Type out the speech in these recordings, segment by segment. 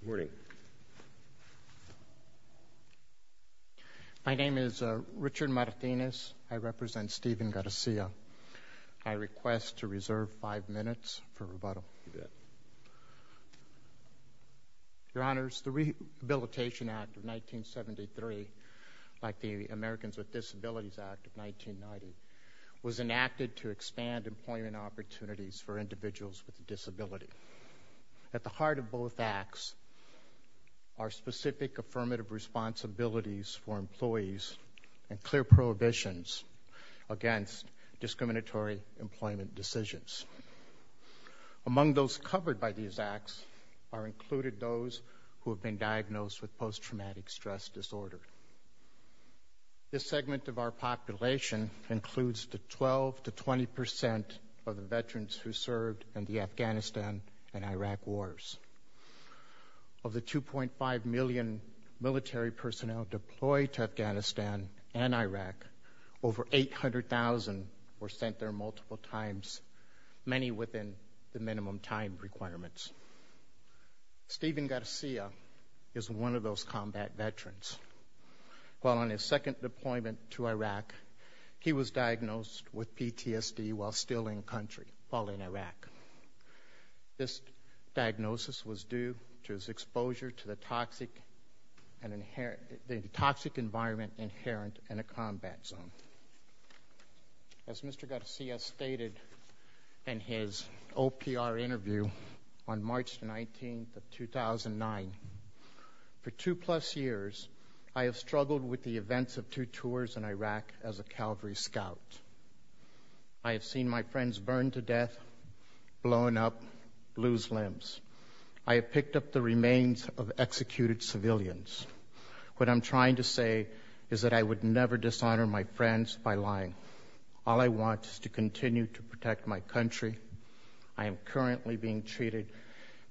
Good morning. My name is Richard Martinez. I represent Stephen Garcia. I request to reserve five minutes for rebuttal. Your Honors, the Rehabilitation Act of 1973, like the Americans with Disabilities Act of 1990, was enacted to expand employment opportunities for individuals with a disability. At the heart of both acts are specific affirmative responsibilities for employees and clear prohibitions against discriminatory employment decisions. Among those covered by these acts are included those who have been diagnosed with post-traumatic stress disorder. This segment of our population includes the 12 to 20 percent of the veterans who served in the Afghanistan and Iraq wars. Of the 2.5 million military personnel deployed to Afghanistan and Iraq, over 800,000 were sent there multiple times, many within the minimum time requirements. Stephen Garcia, while on his second deployment to Iraq, he was diagnosed with PTSD while still in country, while in Iraq. This diagnosis was due to his exposure to the toxic environment inherent in a combat zone. As Mr. Garcia stated in his OPR interview on March 19, 2009, for two-plus years I have struggled with the events of two tours in Iraq as a Calvary Scout. I have seen my friends burned to death, blown up, lose limbs. I have picked up the remains of executed civilians. What I'm trying to say is that I would never dishonor my lying. All I want is to continue to protect my country. I am currently being treated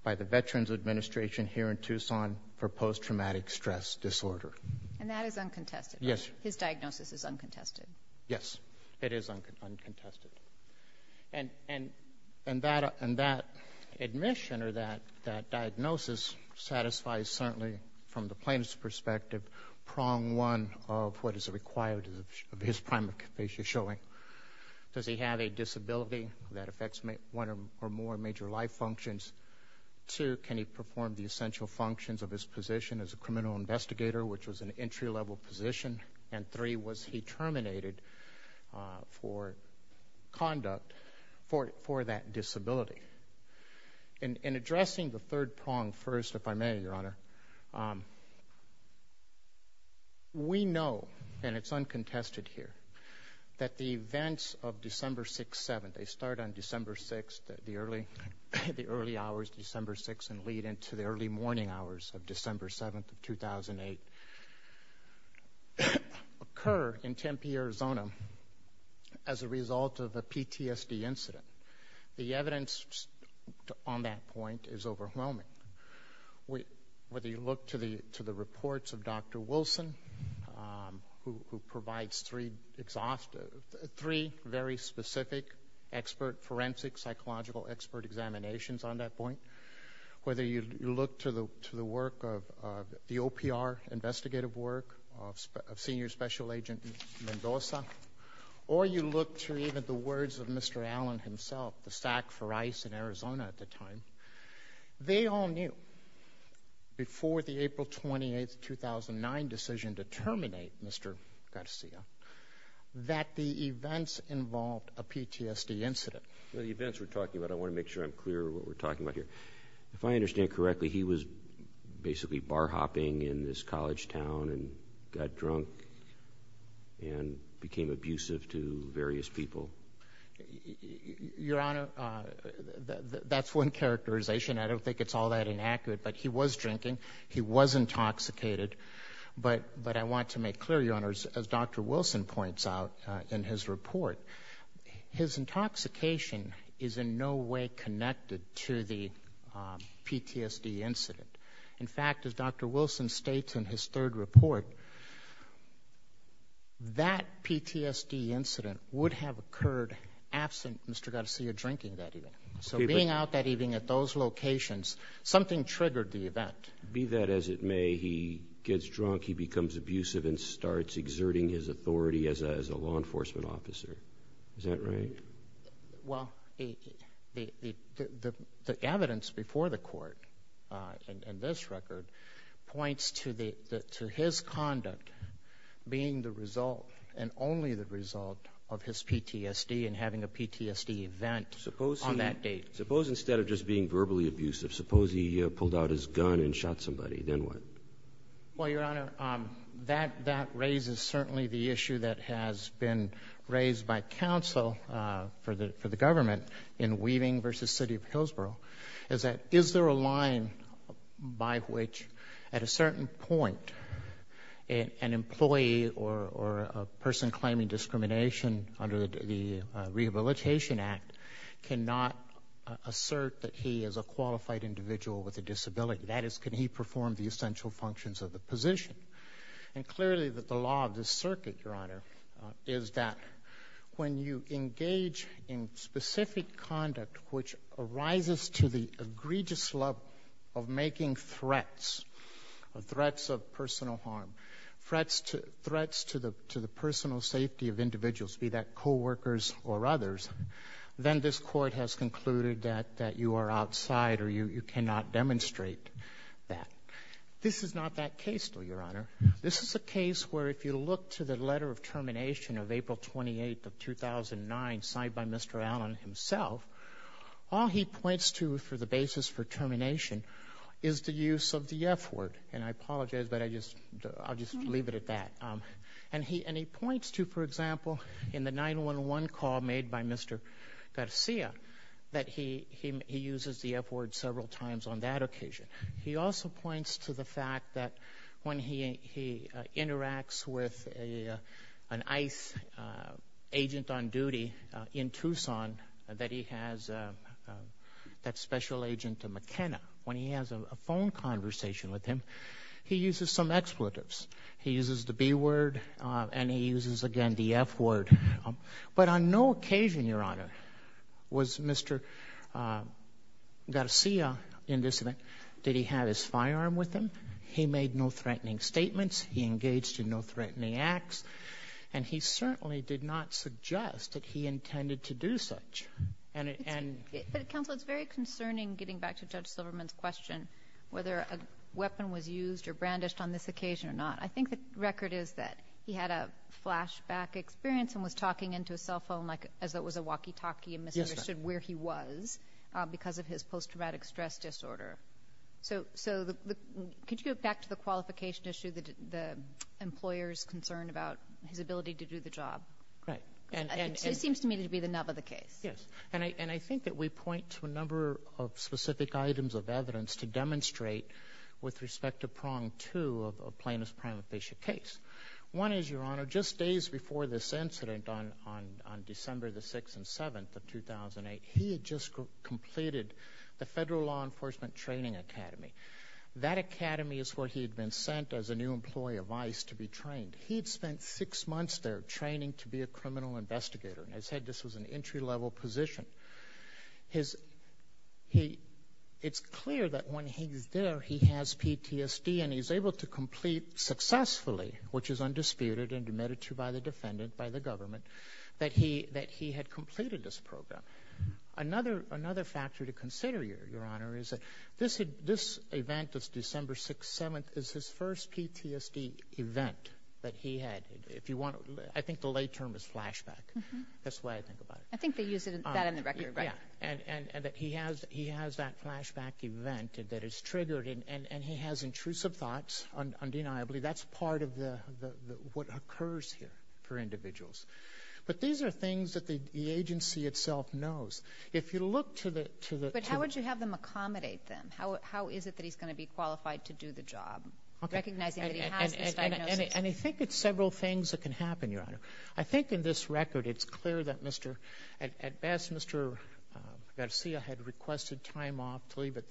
by the Veterans Administration here in Tucson for post-traumatic stress disorder. And that is uncontested? Yes. His diagnosis is uncontested? Yes, it is uncontested. And that admission or that diagnosis satisfies certainly from the plaintiff's perspective, prong one of what is you're showing. Does he have a disability that affects one or more major life functions? Two, can he perform the essential functions of his position as a criminal investigator, which was an entry-level position? And three, was he terminated for conduct for that disability? In addressing the third that the events of December 6-7, they start on December 6, the early hours December 6 and lead into the early morning hours of December 7, 2008, occur in Tempe, Arizona as a result of a PTSD incident. The evidence on that point is overwhelming. Whether you look to the reports of Dr. Wilson, who provides three very specific forensic, psychological expert examinations on that point, whether you look to the work of the OPR investigative work of Senior Special Agent Mendoza, or you look to even the words of Mr. Allen himself, the SAC for ICE in Arizona at the time, they all knew before the April 28, 2009 decision to terminate Mr. Garcia, that the events involved a PTSD incident. The events we're talking about, I want to make sure I'm clear what we're talking about here. If I understand correctly, he was basically bar hopping in this college town and got drunk and became abusive to various people? Your Honor, that's one characterization. I don't think it's all that inaccurate, but he was drinking, he was intoxicated, but I want to make clear, Your Honor, as Dr. Wilson points out in his report, his intoxication is in no way connected to the PTSD incident. In fact, as Dr. Wilson states in his third report, that PTSD incident would have occurred absent Mr. Garcia drinking that evening. So being out that evening at those locations, something triggered the event. Be that as it may, he gets drunk, he becomes abusive, and starts exerting his authority as a law enforcement officer. Is that right? Well, the evidence before the court in this record points to his conduct being the result, and only the evidence, instead of just being verbally abusive. Suppose he pulled out his gun and shot somebody, then what? Well, Your Honor, that raises certainly the issue that has been raised by counsel for the government in Weaving v. City of Hillsborough, is that is there a line by which, at a certain point, an employee or a person claiming discrimination under the Rehabilitation Act cannot assert that he is a qualified individual with a disability. That is, can he perform the essential functions of the position? And clearly, that the law of this circuit, Your Honor, is that when you engage in specific conduct which arises to the egregious level of making threats, threats of personal harm, threats to the personal safety of individuals, be that that you are outside or you cannot demonstrate that. This is not that case, though, Your Honor. This is a case where, if you look to the letter of termination of April 28th of 2009, signed by Mr. Allen himself, all he points to for the basis for termination is the use of the F-word. And I apologize, but I just I'll just leave it at that. And he points to, for example, in the 911 call made by Mr. Garcia, that he uses the F-word several times on that occasion. He also points to the fact that when he interacts with an ICE agent on duty in Tucson, that he has that special agent, McKenna, when he has a phone conversation with him, he uses some expletives. He uses the B-word and he uses, again, the F-word. But on no occasion, Your Honor, was Mr. Garcia, in this event, did he have his firearm with him. He made no threatening statements. He engaged in no threatening acts. And he certainly did not suggest that he intended to do such. But, Counsel, it's very concerning, getting back to Judge Silverman's question, whether a weapon was used or brandished on this occasion or not. I think the record is that he had a flashback experience and was talking into a cell phone like as though it was a walkie-talkie and misunderstood where he was because of his post-traumatic stress disorder. So could you go back to the qualification issue, the employer's concern about his ability to do the job? Right. It seems to me to be the nub of the case. Yes. And I think that we point to a number of specific items of evidence to One is, Your Honor, just days before this incident on December the 6th and 7th of 2008, he had just completed the Federal Law Enforcement Training Academy. That academy is where he had been sent as a new employee of ICE to be trained. He'd spent six months there training to be a criminal investigator. And I said this was an entry-level position. It's clear that when he's there, he has PTSD and he's able to complete successfully, which is undisputed and admitted to by the defendant, by the government, that he had completed this program. Another factor to consider, Your Honor, is that this event, this December 6th, 7th, is his first PTSD event that he had. I think the lay term is flashback. That's the way I think about it. I think they use that in the record, right? Yeah. And that he has that flashback event that is triggered and he has intrusive thoughts, undeniably. That's part of what occurs here for individuals. But these are things that the agency itself knows. If you look to the... But how would you have them accommodate them? How is it that he's going to be qualified to do the job? Recognizing that he has this diagnosis? And I think it's several things that can happen, Your Honor. I think in this record, it's clear that, at best, Mr. Garcia had requested time off to leave at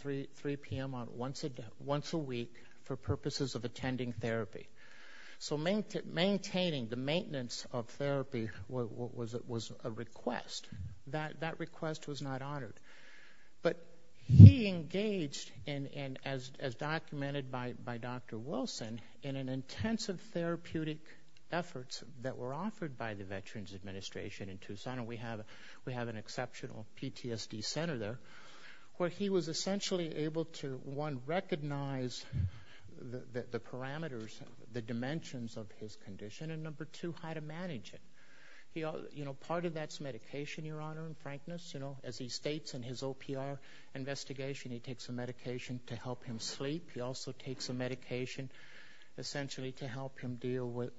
the purposes of attending therapy. So maintaining the maintenance of therapy was a request. That request was not honored. But he engaged, and as documented by Dr. Wilson, in an intensive therapeutic efforts that were offered by the Veterans Administration in Tucson. And we have an exceptional PTSD center there, where he was essentially able to, one, recognize the parameters, the dimensions of his condition, and number two, how to manage it. Part of that's medication, Your Honor, in frankness. As he states in his OPR investigation, he takes a medication to help him sleep. He also takes a medication, essentially, to help him deal with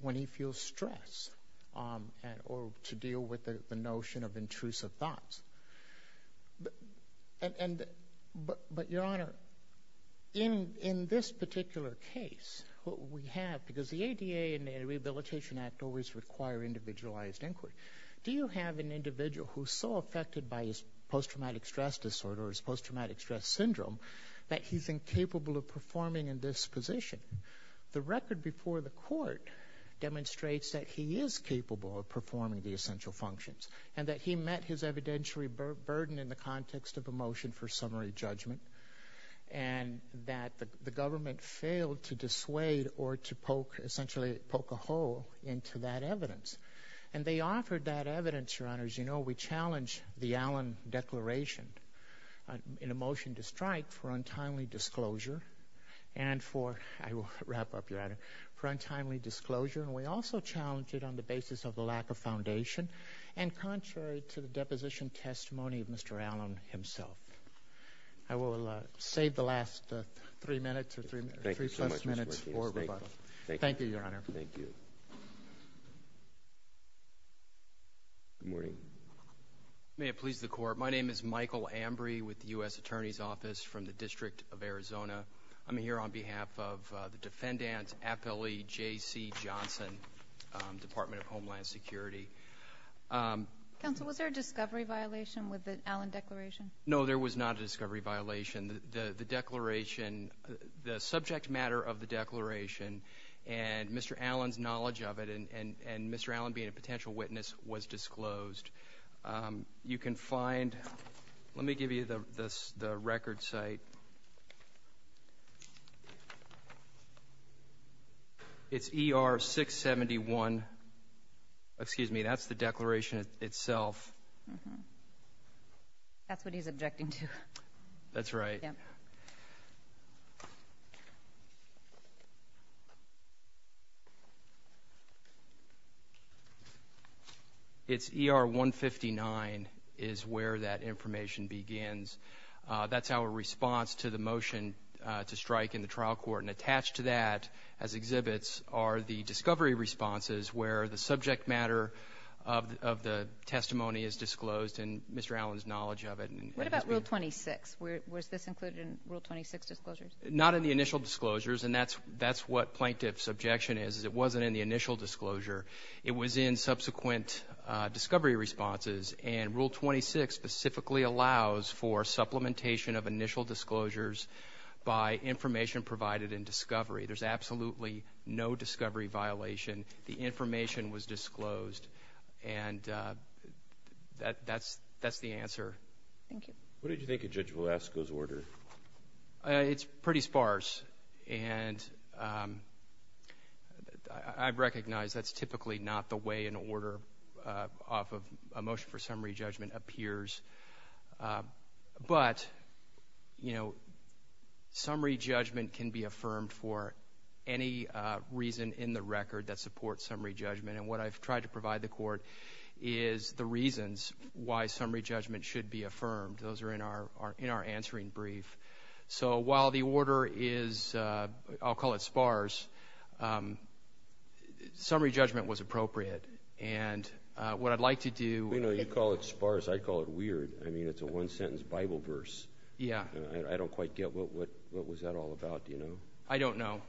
when he feels stress or to deal with the notion of intrusive thoughts. But, Your Honor, in this particular case, what we have, because the ADA and the Rehabilitation Act always require individualized inquiry, do you have an individual who's so affected by his post-traumatic stress disorder, his post-traumatic stress syndrome, that he's incapable of performing in this position? The record before the court demonstrates that he is capable of performing the evidentiary burden in the context of a motion for summary judgment, and that the government failed to dissuade or to poke, essentially, poke a hole into that evidence. And they offered that evidence, Your Honor, as you know, we challenged the Allen Declaration in a motion to strike for untimely disclosure, and for, I will wrap up, Your Honor, for untimely disclosure. And we also challenged it on the basis of the lack of foundation, and contrary to the deposition testimony of Mr. Allen himself. I will save the last three minutes, three plus minutes, for rebuttal. Thank you, Your Honor. Thank you. Good morning. May it please the Court, my name is Michael Ambry with the U.S. Attorney's Office from the District of Arizona. I'm here on behalf of the Homeland Security. Counsel, was there a discovery violation with the Allen Declaration? No, there was not a discovery violation. The declaration, the subject matter of the declaration, and Mr. Allen's knowledge of it, and Mr. Allen being a potential witness, was disclosed. You can find, let me give you the record site. It's ER 671, excuse me, that's the declaration itself. That's what he's objecting to. That's right. It's ER 159 is where that information begins. That's our response to the motion to strike in the trial court, and attached to that, as exhibits, are the discovery responses, where the subject matter of the testimony is disclosed, and disclosures? Not in the initial disclosures, and that's what plaintiff's objection is. It wasn't in the initial disclosure. It was in subsequent discovery responses, and Rule 26 specifically allows for supplementation of initial disclosures by information provided in discovery. There's absolutely no discovery violation. The information was disclosed, and that's the answer. Thank you. What did you think of Judge Velasco's order? It's pretty sparse, and I recognize that's typically not the way an order off of a motion for summary judgment appears, but, you know, summary judgment can be affirmed for any reason in the record that supports summary judgment, and what I've tried to provide the court is the reasons why summary judgment was appropriate, and what I'd like to do... You know, you call it sparse. I call it weird. I mean, it's a one-sentence Bible verse. Yeah. I don't quite get what was that all about, you know? I don't know.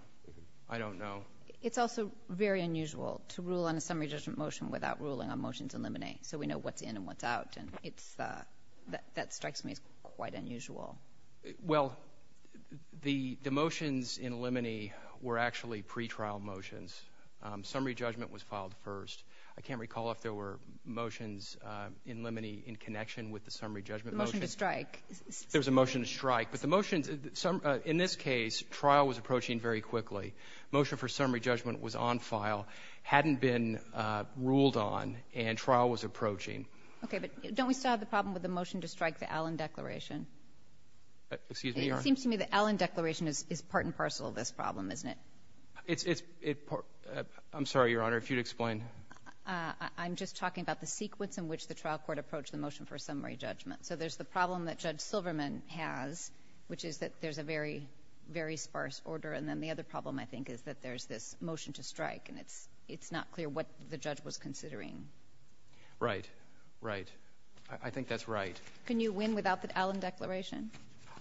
I don't know. It's also very unusual to rule on a summary judgment motion without ruling on motions in limine, so we know what's in and what's out, and that strikes me as quite unusual. Well, the motions in limine were actually pretrial motions. Summary judgment was filed first. I can't recall if there were motions in limine in connection with the summary judgment motion. The motion to strike. There was a motion to strike, but the motions... In this case, trial was approaching very quickly. Motion for summary judgment was on file, hadn't been the motion to strike the Allen declaration. It seems to me that the Allen declaration is part and parcel of this problem, isn't it? I'm sorry, Your Honor, if you'd explain. I'm just talking about the sequence in which the trial court approached the motion for summary judgment, so there's the problem that Judge Silverman has which is that there's a very very sparse order, and then the other problem, I think, is that there's this motion to strike, and it's I think that's right. Can you win without the Allen declaration?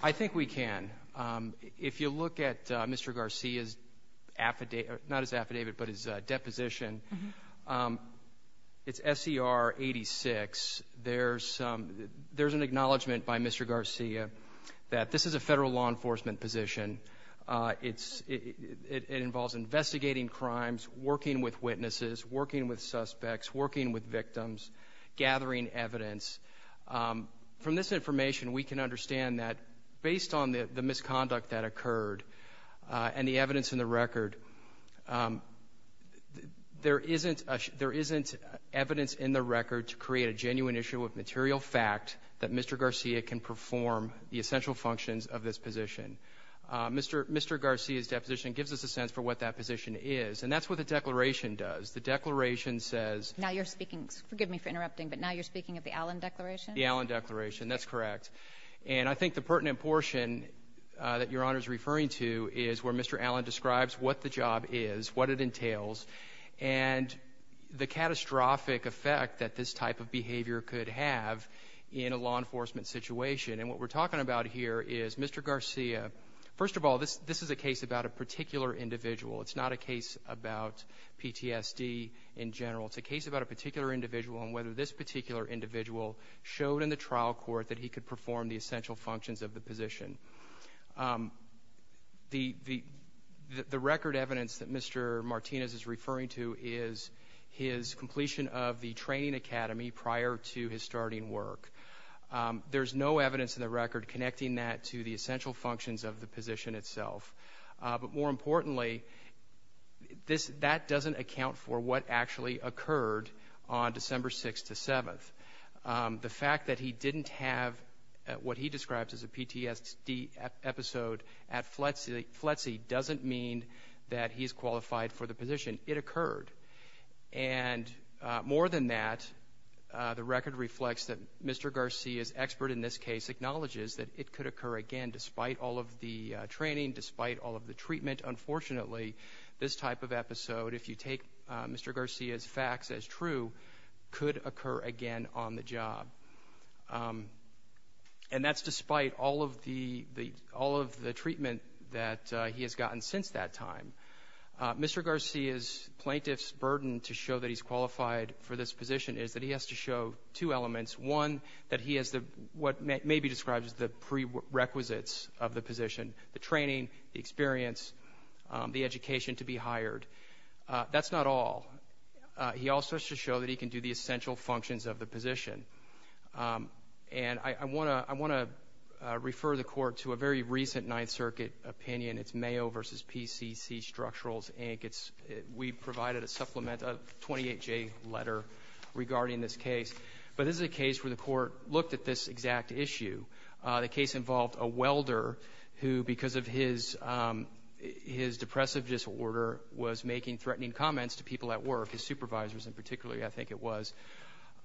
I think we can. If you look at Mr. Garcia's affidavit, not his affidavit, but his deposition, it's SCR 86. There's an acknowledgement by Mr. Garcia that this is a federal law enforcement position. It involves investigating crimes, working with witnesses, working with suspects, working with victims, gathering evidence. From this information, we can understand that based on the misconduct that occurred and the evidence in the record, there isn't evidence in the record to create a genuine issue of material fact that Mr. Garcia can perform the essential functions of this position. Mr. Garcia's deposition gives us a sense for what that position is, and that's what the declaration does. The declaration says... Now you're speaking... forgive me for interrupting, but now you're speaking of the Allen declaration? The Allen declaration, that's correct. And I think the pertinent portion that Your Honor is referring to is where Mr. Allen describes what the job is, what it entails, and the catastrophic effect that this type of behavior could have in a law enforcement situation. And what we're talking about here is Mr. Garcia... First of all, this is a case about a particular individual. It's not a case about PTSD in general. It's a case about a particular individual and whether this particular individual showed in the trial court that he could perform the essential functions of the position. The record evidence that Mr. Martinez is referring to is his completion of the training academy prior to his starting work. There's no evidence in the record connecting that to the That doesn't account for what actually occurred on December 6th to 7th. The fact that he didn't have what he describes as a PTSD episode at FLETC doesn't mean that he's qualified for the position. It occurred. And more than that, the record reflects that Mr. Garcia's expert in this case acknowledges that it could occur again despite all of the training, despite all of the treatment. Unfortunately, this type of episode, if you take Mr. Garcia's facts as true, could occur again on the job. And that's despite all of the treatment that he has gotten since that time. Mr. Garcia's plaintiff's burden to show that he's qualified for this position is that he has to show two elements. One, that he has what may be described as the prerequisites of the position. The education to be hired. That's not all. He also has to show that he can do the essential functions of the position. And I want to refer the court to a very recent Ninth Circuit opinion. It's Mayo versus PCC Structurals, Inc. We provided a supplement, a 28-J letter, regarding this case. But this is a case where the court looked at this exact issue. The case involved a welder who, because of his depressive disorder, was making threatening comments to people at work, his supervisors in particular, I think it was,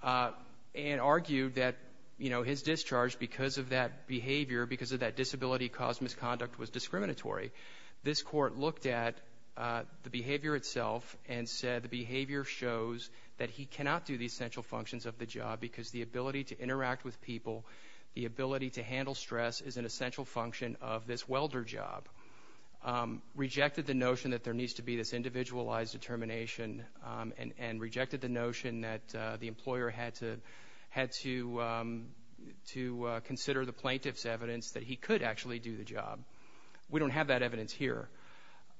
and argued that, you know, his discharge, because of that behavior, because of that disability caused misconduct, was discriminatory. This court looked at the behavior itself and said the behavior shows that he cannot do the essential functions of the job because the ability to interact with people, the ability to handle stress, is an essential function of this welder job. Rejected the notion that there needs to be this individualized determination and rejected the notion that the employer had to consider the plaintiff's evidence that he could actually do the job. We don't have that evidence here.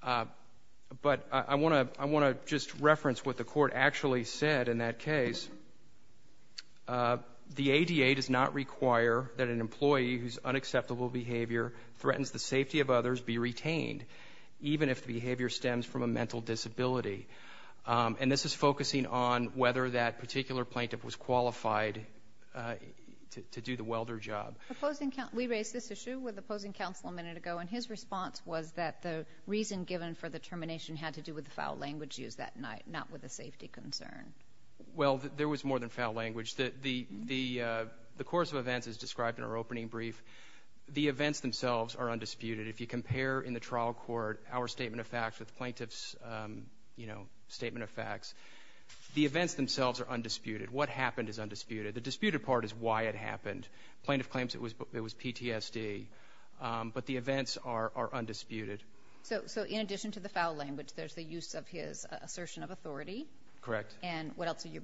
But I want to just reference what the court actually said in that case. The ADA does not require that an employee whose unacceptable behavior threatens the safety of others be retained, even if the behavior stems from a mental disability. And this is focusing on whether that particular plaintiff was qualified to do the welder job. We raised this issue with opposing counsel a minute ago and his response was that the reason given for the termination had to do with the foul language used that night, not with a safety concern. Well, there was more than described in our opening brief. The events themselves are undisputed. If you compare in the trial court our statement of facts with plaintiff's, you know, statement of facts, the events themselves are undisputed. What happened is undisputed. The disputed part is why it happened. Plaintiff claims it was PTSD, but the events are undisputed. So in addition to the foul language, there's the use of his assertion of authority? Correct. And what else are you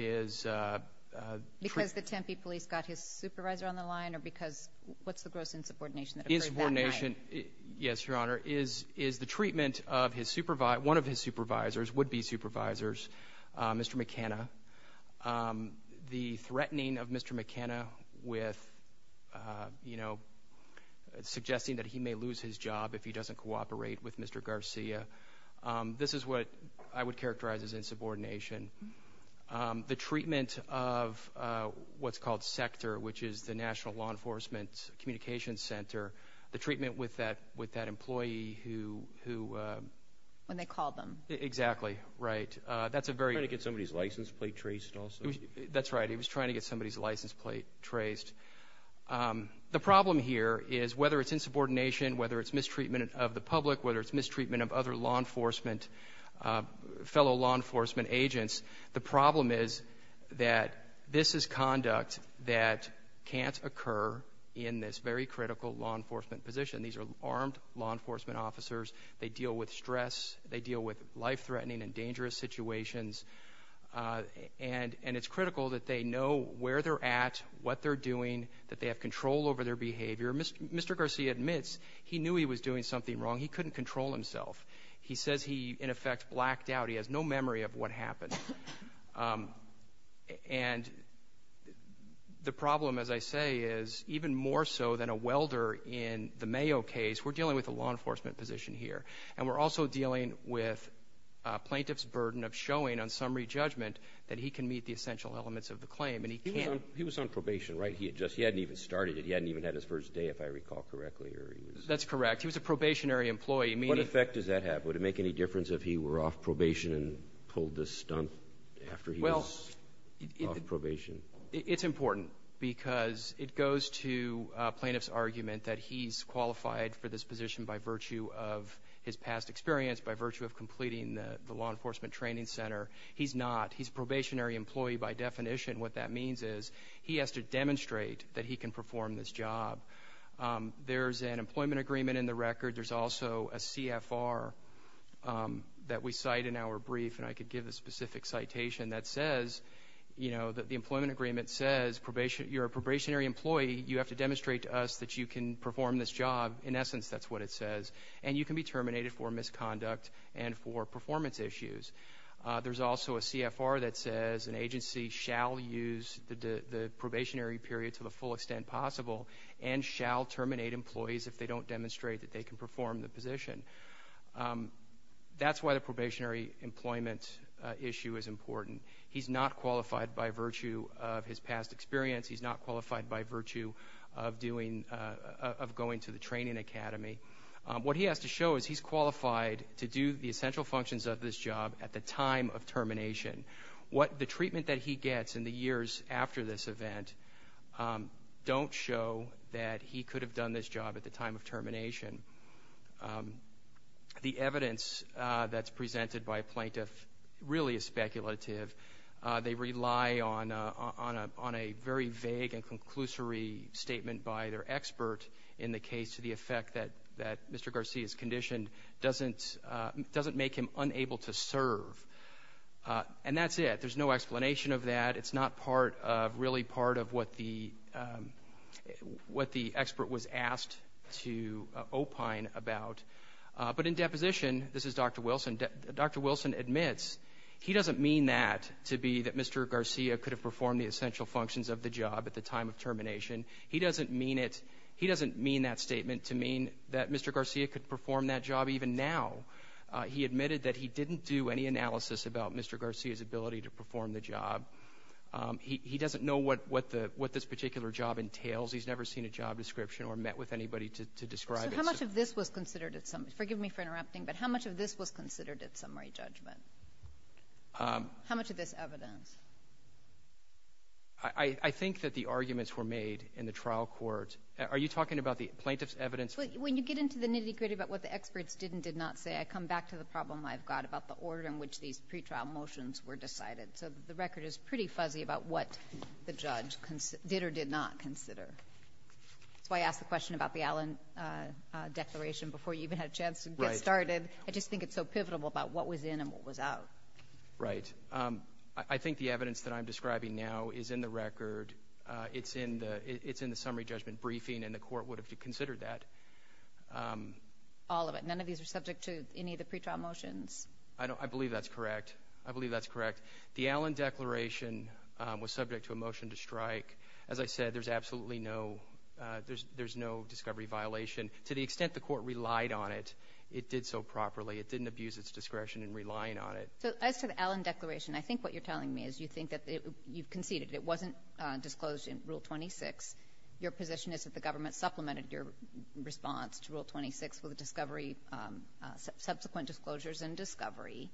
is, uh, because the Tempe police got his supervisor on the line or because what's the gross insubordination? Insubordination? Yes, Your Honor. Is is the treatment of his supervisor? One of his supervisors would be supervisors, Mr McKenna. Um, the threatening of Mr McKenna with, uh, you know, suggesting that he may lose his job if he doesn't cooperate with Mr Garcia. Um, this is what I would characterize as insubordination. Um, the treatment of, uh, what's called sector, which is the National Law Enforcement Communications Center. The treatment with that with that employee who, who, uh, when they call them. Exactly right. That's a very to get somebody's license plate traced. Also, that's right. He was trying to get somebody's license plate traced. Um, the problem here is whether it's insubordination, whether it's mistreatment of the public, whether it's mistreatment of other law enforcement, uh, fellow law enforcement agents. The problem is that this is conduct that can't occur in this very critical law enforcement position. These are armed law enforcement officers. They deal with stress. They deal with life threatening and dangerous situations. Uh, and it's critical that they know where they're at, what they're doing, that they have control over their behavior. Mr Garcia admits he knew he was doing something wrong. He couldn't control himself. He says he in effect blacked out. He has no memory of what happened. Um, and the problem, as I say, is even more so than a welder in the Mayo case. We're dealing with the law enforcement position here, and we're also dealing with plaintiff's burden of showing on summary judgment that he can meet the essential elements of the claim, and he can't. He was on probation, right? He just he hadn't even started it. He hadn't even had his first day. If I recall correctly, that's correct. He was a probationary employee. What effect does that have? Would it make any difference if he were off probation and pulled the stunt after? Well, probation, it's important because it goes to plaintiff's argument that he's qualified for this position by virtue of his past experience, by virtue of completing the law enforcement training center. He's not. He's probationary employee. By definition, what that means is he has to demonstrate that he can perform this job. There's an employment agreement in the record. There's also a CFR that we cite in our brief, and I could give a specific citation that says, you know, that the employment agreement says probation, you're a probationary employee. You have to demonstrate to us that you can perform this job. In essence, that's what it says. And you can be terminated for misconduct and for performance issues. There's also a CFR that says an agency shall use the probationary period to the full extent possible and shall terminate employees if they don't demonstrate that they can perform the position. That's why the probationary employment issue is important. He's not qualified by virtue of his past experience. He's not qualified by virtue of going to the training academy. What he has to show is he's qualified to do the essential functions of this job at the time of termination. What the evidence he gets in the years after this event don't show that he could have done this job at the time of termination. The evidence that's presented by a plaintiff really is speculative. They rely on a very vague and conclusory statement by their expert in the case to the effect that Mr. Garcia's condition doesn't make him unable to serve. And that's it. There's no explanation of that. It's not part of really part of what the what the expert was asked to opine about. But in deposition, this is Dr. Wilson, Dr. Wilson admits he doesn't mean that to be that Mr. Garcia could have performed the essential functions of the job at the time of termination. He doesn't mean it. He doesn't mean that statement to mean that Mr. Garcia could perform that job even now. He admitted that he didn't do any analysis about Mr. Garcia's ability to perform the job. He doesn't know what what the what this particular job entails. He's never seen a job description or met with anybody to describe it. How much of this was considered at some, forgive me for interrupting, but how much of this was considered at summary judgment? How much of this evidence? I think that the arguments were made in the trial court. Are you talking about the plaintiff's evidence? When you get into the nitty gritty about what the experts did and did not say, I come back to the problem I've got about the order in which these pretrial motions were decided. So the record is pretty fuzzy about what the judge did or did not consider. So I asked the question about the Allen declaration before you even had a chance to get started. I just think it's so pivotal about what was in and what was out. Right. I think the evidence that I'm describing now is in the record. It's in the it's in the summary judgment briefing and the court would have to consider that. All of it. None of these are subject to any of the pretrial motions. I know. I believe that's correct. I believe that's correct. The Allen declaration was subject to a motion to strike. As I said, there's absolutely no there's there's no discovery violation to the extent the court relied on it. It did so properly. It didn't abuse its discretion and relying on it. So as to the Allen declaration, I think what you're telling me is you think that you've conceded it wasn't disclosed in Rule 26. Your position is that the government supplemented your response to Rule 26 with a discovery subsequent disclosures and discovery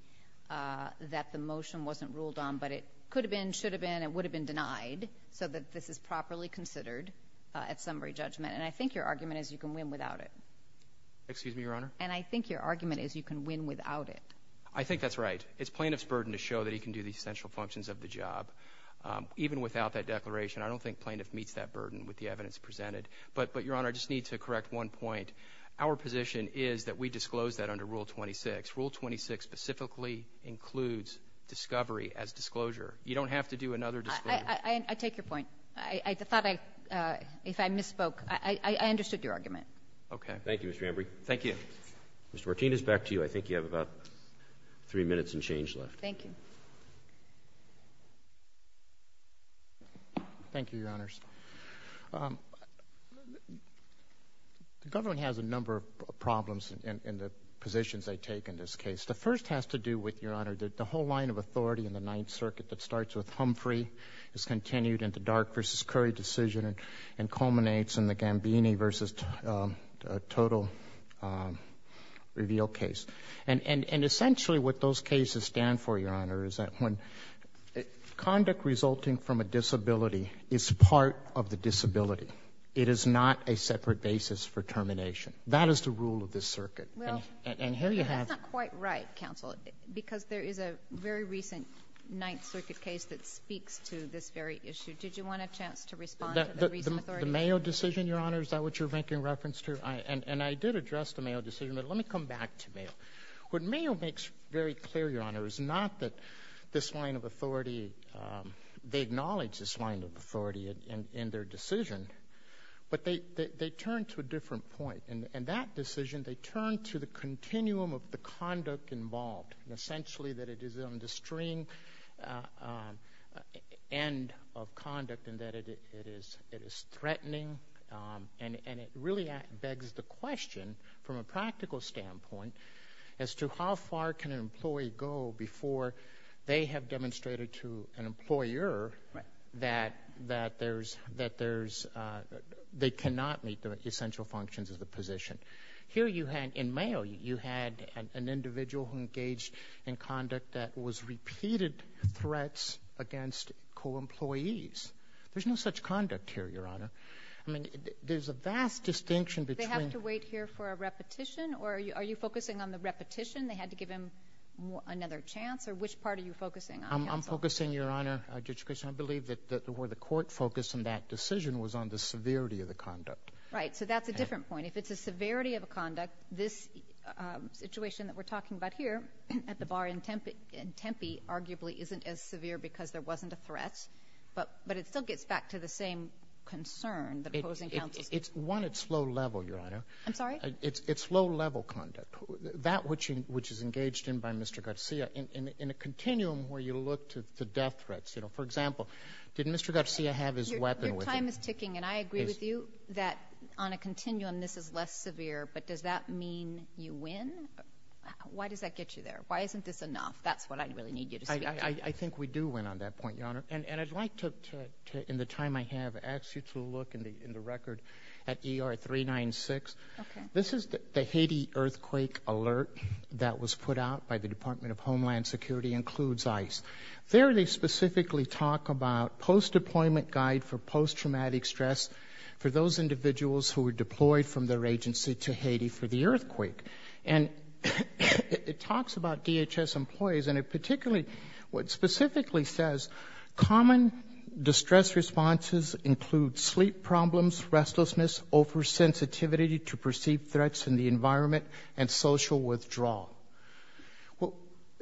that the motion wasn't ruled on but it could have been should have been it would have been denied so that this is properly considered at summary judgment. And I think your argument is you can win without it. Excuse me, Your Honor. And I think your argument is you can win without it. I think that's right. It's plaintiff's burden to show that he can do the essential functions of the job even without that declaration. I don't think plaintiff meets that burden with the evidence presented. But but Your Honor, I just need to correct one point. Our position is that we disclosed that under Rule 26. Rule 26 specifically includes discovery as disclosure. You don't have to do another disclosure. I take your point. I thought I if I misspoke, I understood your argument. Okay. Thank you, Mr. Ambrey. Thank you. Mr. Martinez, back to you. I think you have about three minutes and change left. Thank you. Thank you, Your Honors. The government has a number of problems in the positions they take in this case. The first has to do with, Your Honor, the whole line of authority in the Ninth Circuit that starts with Humphrey is continued in the Dark v. Curry decision and culminates in the Gambini v. Total Reveal case. And essentially what those cases stand for, Your Honor, is that when conduct resulting from a of the disability, it is not a separate basis for termination. That is the rule of this circuit. And here you have quite right, counsel, because there is a very recent Ninth Circuit case that speaks to this very issue. Did you want a chance to respond? The Mayo decision, Your Honor, is that what you're making reference to? And I did address the Mayo decision. But let me come back to Mayo. What Mayo makes very clear, Your Honor, is not that this line of authority in their decision, but they turn to a different point. In that decision, they turn to the continuum of the conduct involved, essentially that it is on the string end of conduct and that it is threatening. And it really begs the question from a practical standpoint as to how far can an employee go before they have demonstrated to an employer that there's, that there's, they cannot meet the essential functions of the position. Here you had, in Mayo, you had an individual who engaged in conduct that was repeated threats against co-employees. There's no such conduct here, Your Honor. I mean there's a vast distinction between. They have to wait here for a repetition or are you focusing on the repetition? They had to give him another chance or which part are you focusing on? I'm focusing, Your Honor, I believe that where the court focused in that decision was on the severity of the conduct. Right, so that's a different point. If it's a severity of a conduct, this situation that we're talking about here at the bar in Tempe arguably isn't as severe because there wasn't a threat. But it still gets back to the same concern. It's one, it's low level, Your Honor. I'm sorry? It's low level conduct. That which is engaged in by Mr. Garcia, in a continuum where you look to the death threats, you know, for example, did Mr. Garcia have his weapon with him? Your time is ticking and I agree with you that on a continuum this is less severe, but does that mean you win? Why does that get you there? Why isn't this enough? That's what I really need you to say. I think we do win on that point, Your Honor. And I'd like to, in the time I have, ask you to look in the record at ER 396. This is the Haiti earthquake alert that was put out by the Department of Homeland Security, includes ICE. There they specifically talk about post- deployment guide for post-traumatic stress for those individuals who were deployed from their agency to Haiti for the earthquake. And it talks about DHS employees and it particularly, specifically says common distress responses include sleep problems, restlessness, oversensitivity to perceived threats in the environment, and social withdrawal. Well,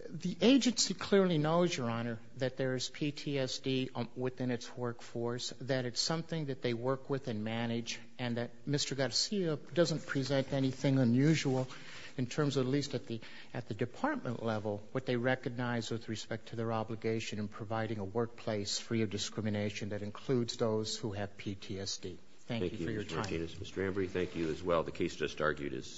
the agency clearly knows, Your Honor, that there is PTSD within its workforce, that it's something that they work with and manage and that Mr. Garcia doesn't present anything unusual in terms of, at least at the, at the department level, what they recognize with respect to their obligation in providing a workplace free of discrimination that includes those who have PTSD. Thank you for your time. Thank you, Mr. Martinez. Mr. Ambrey, thank you as well. The case just argued is submitted.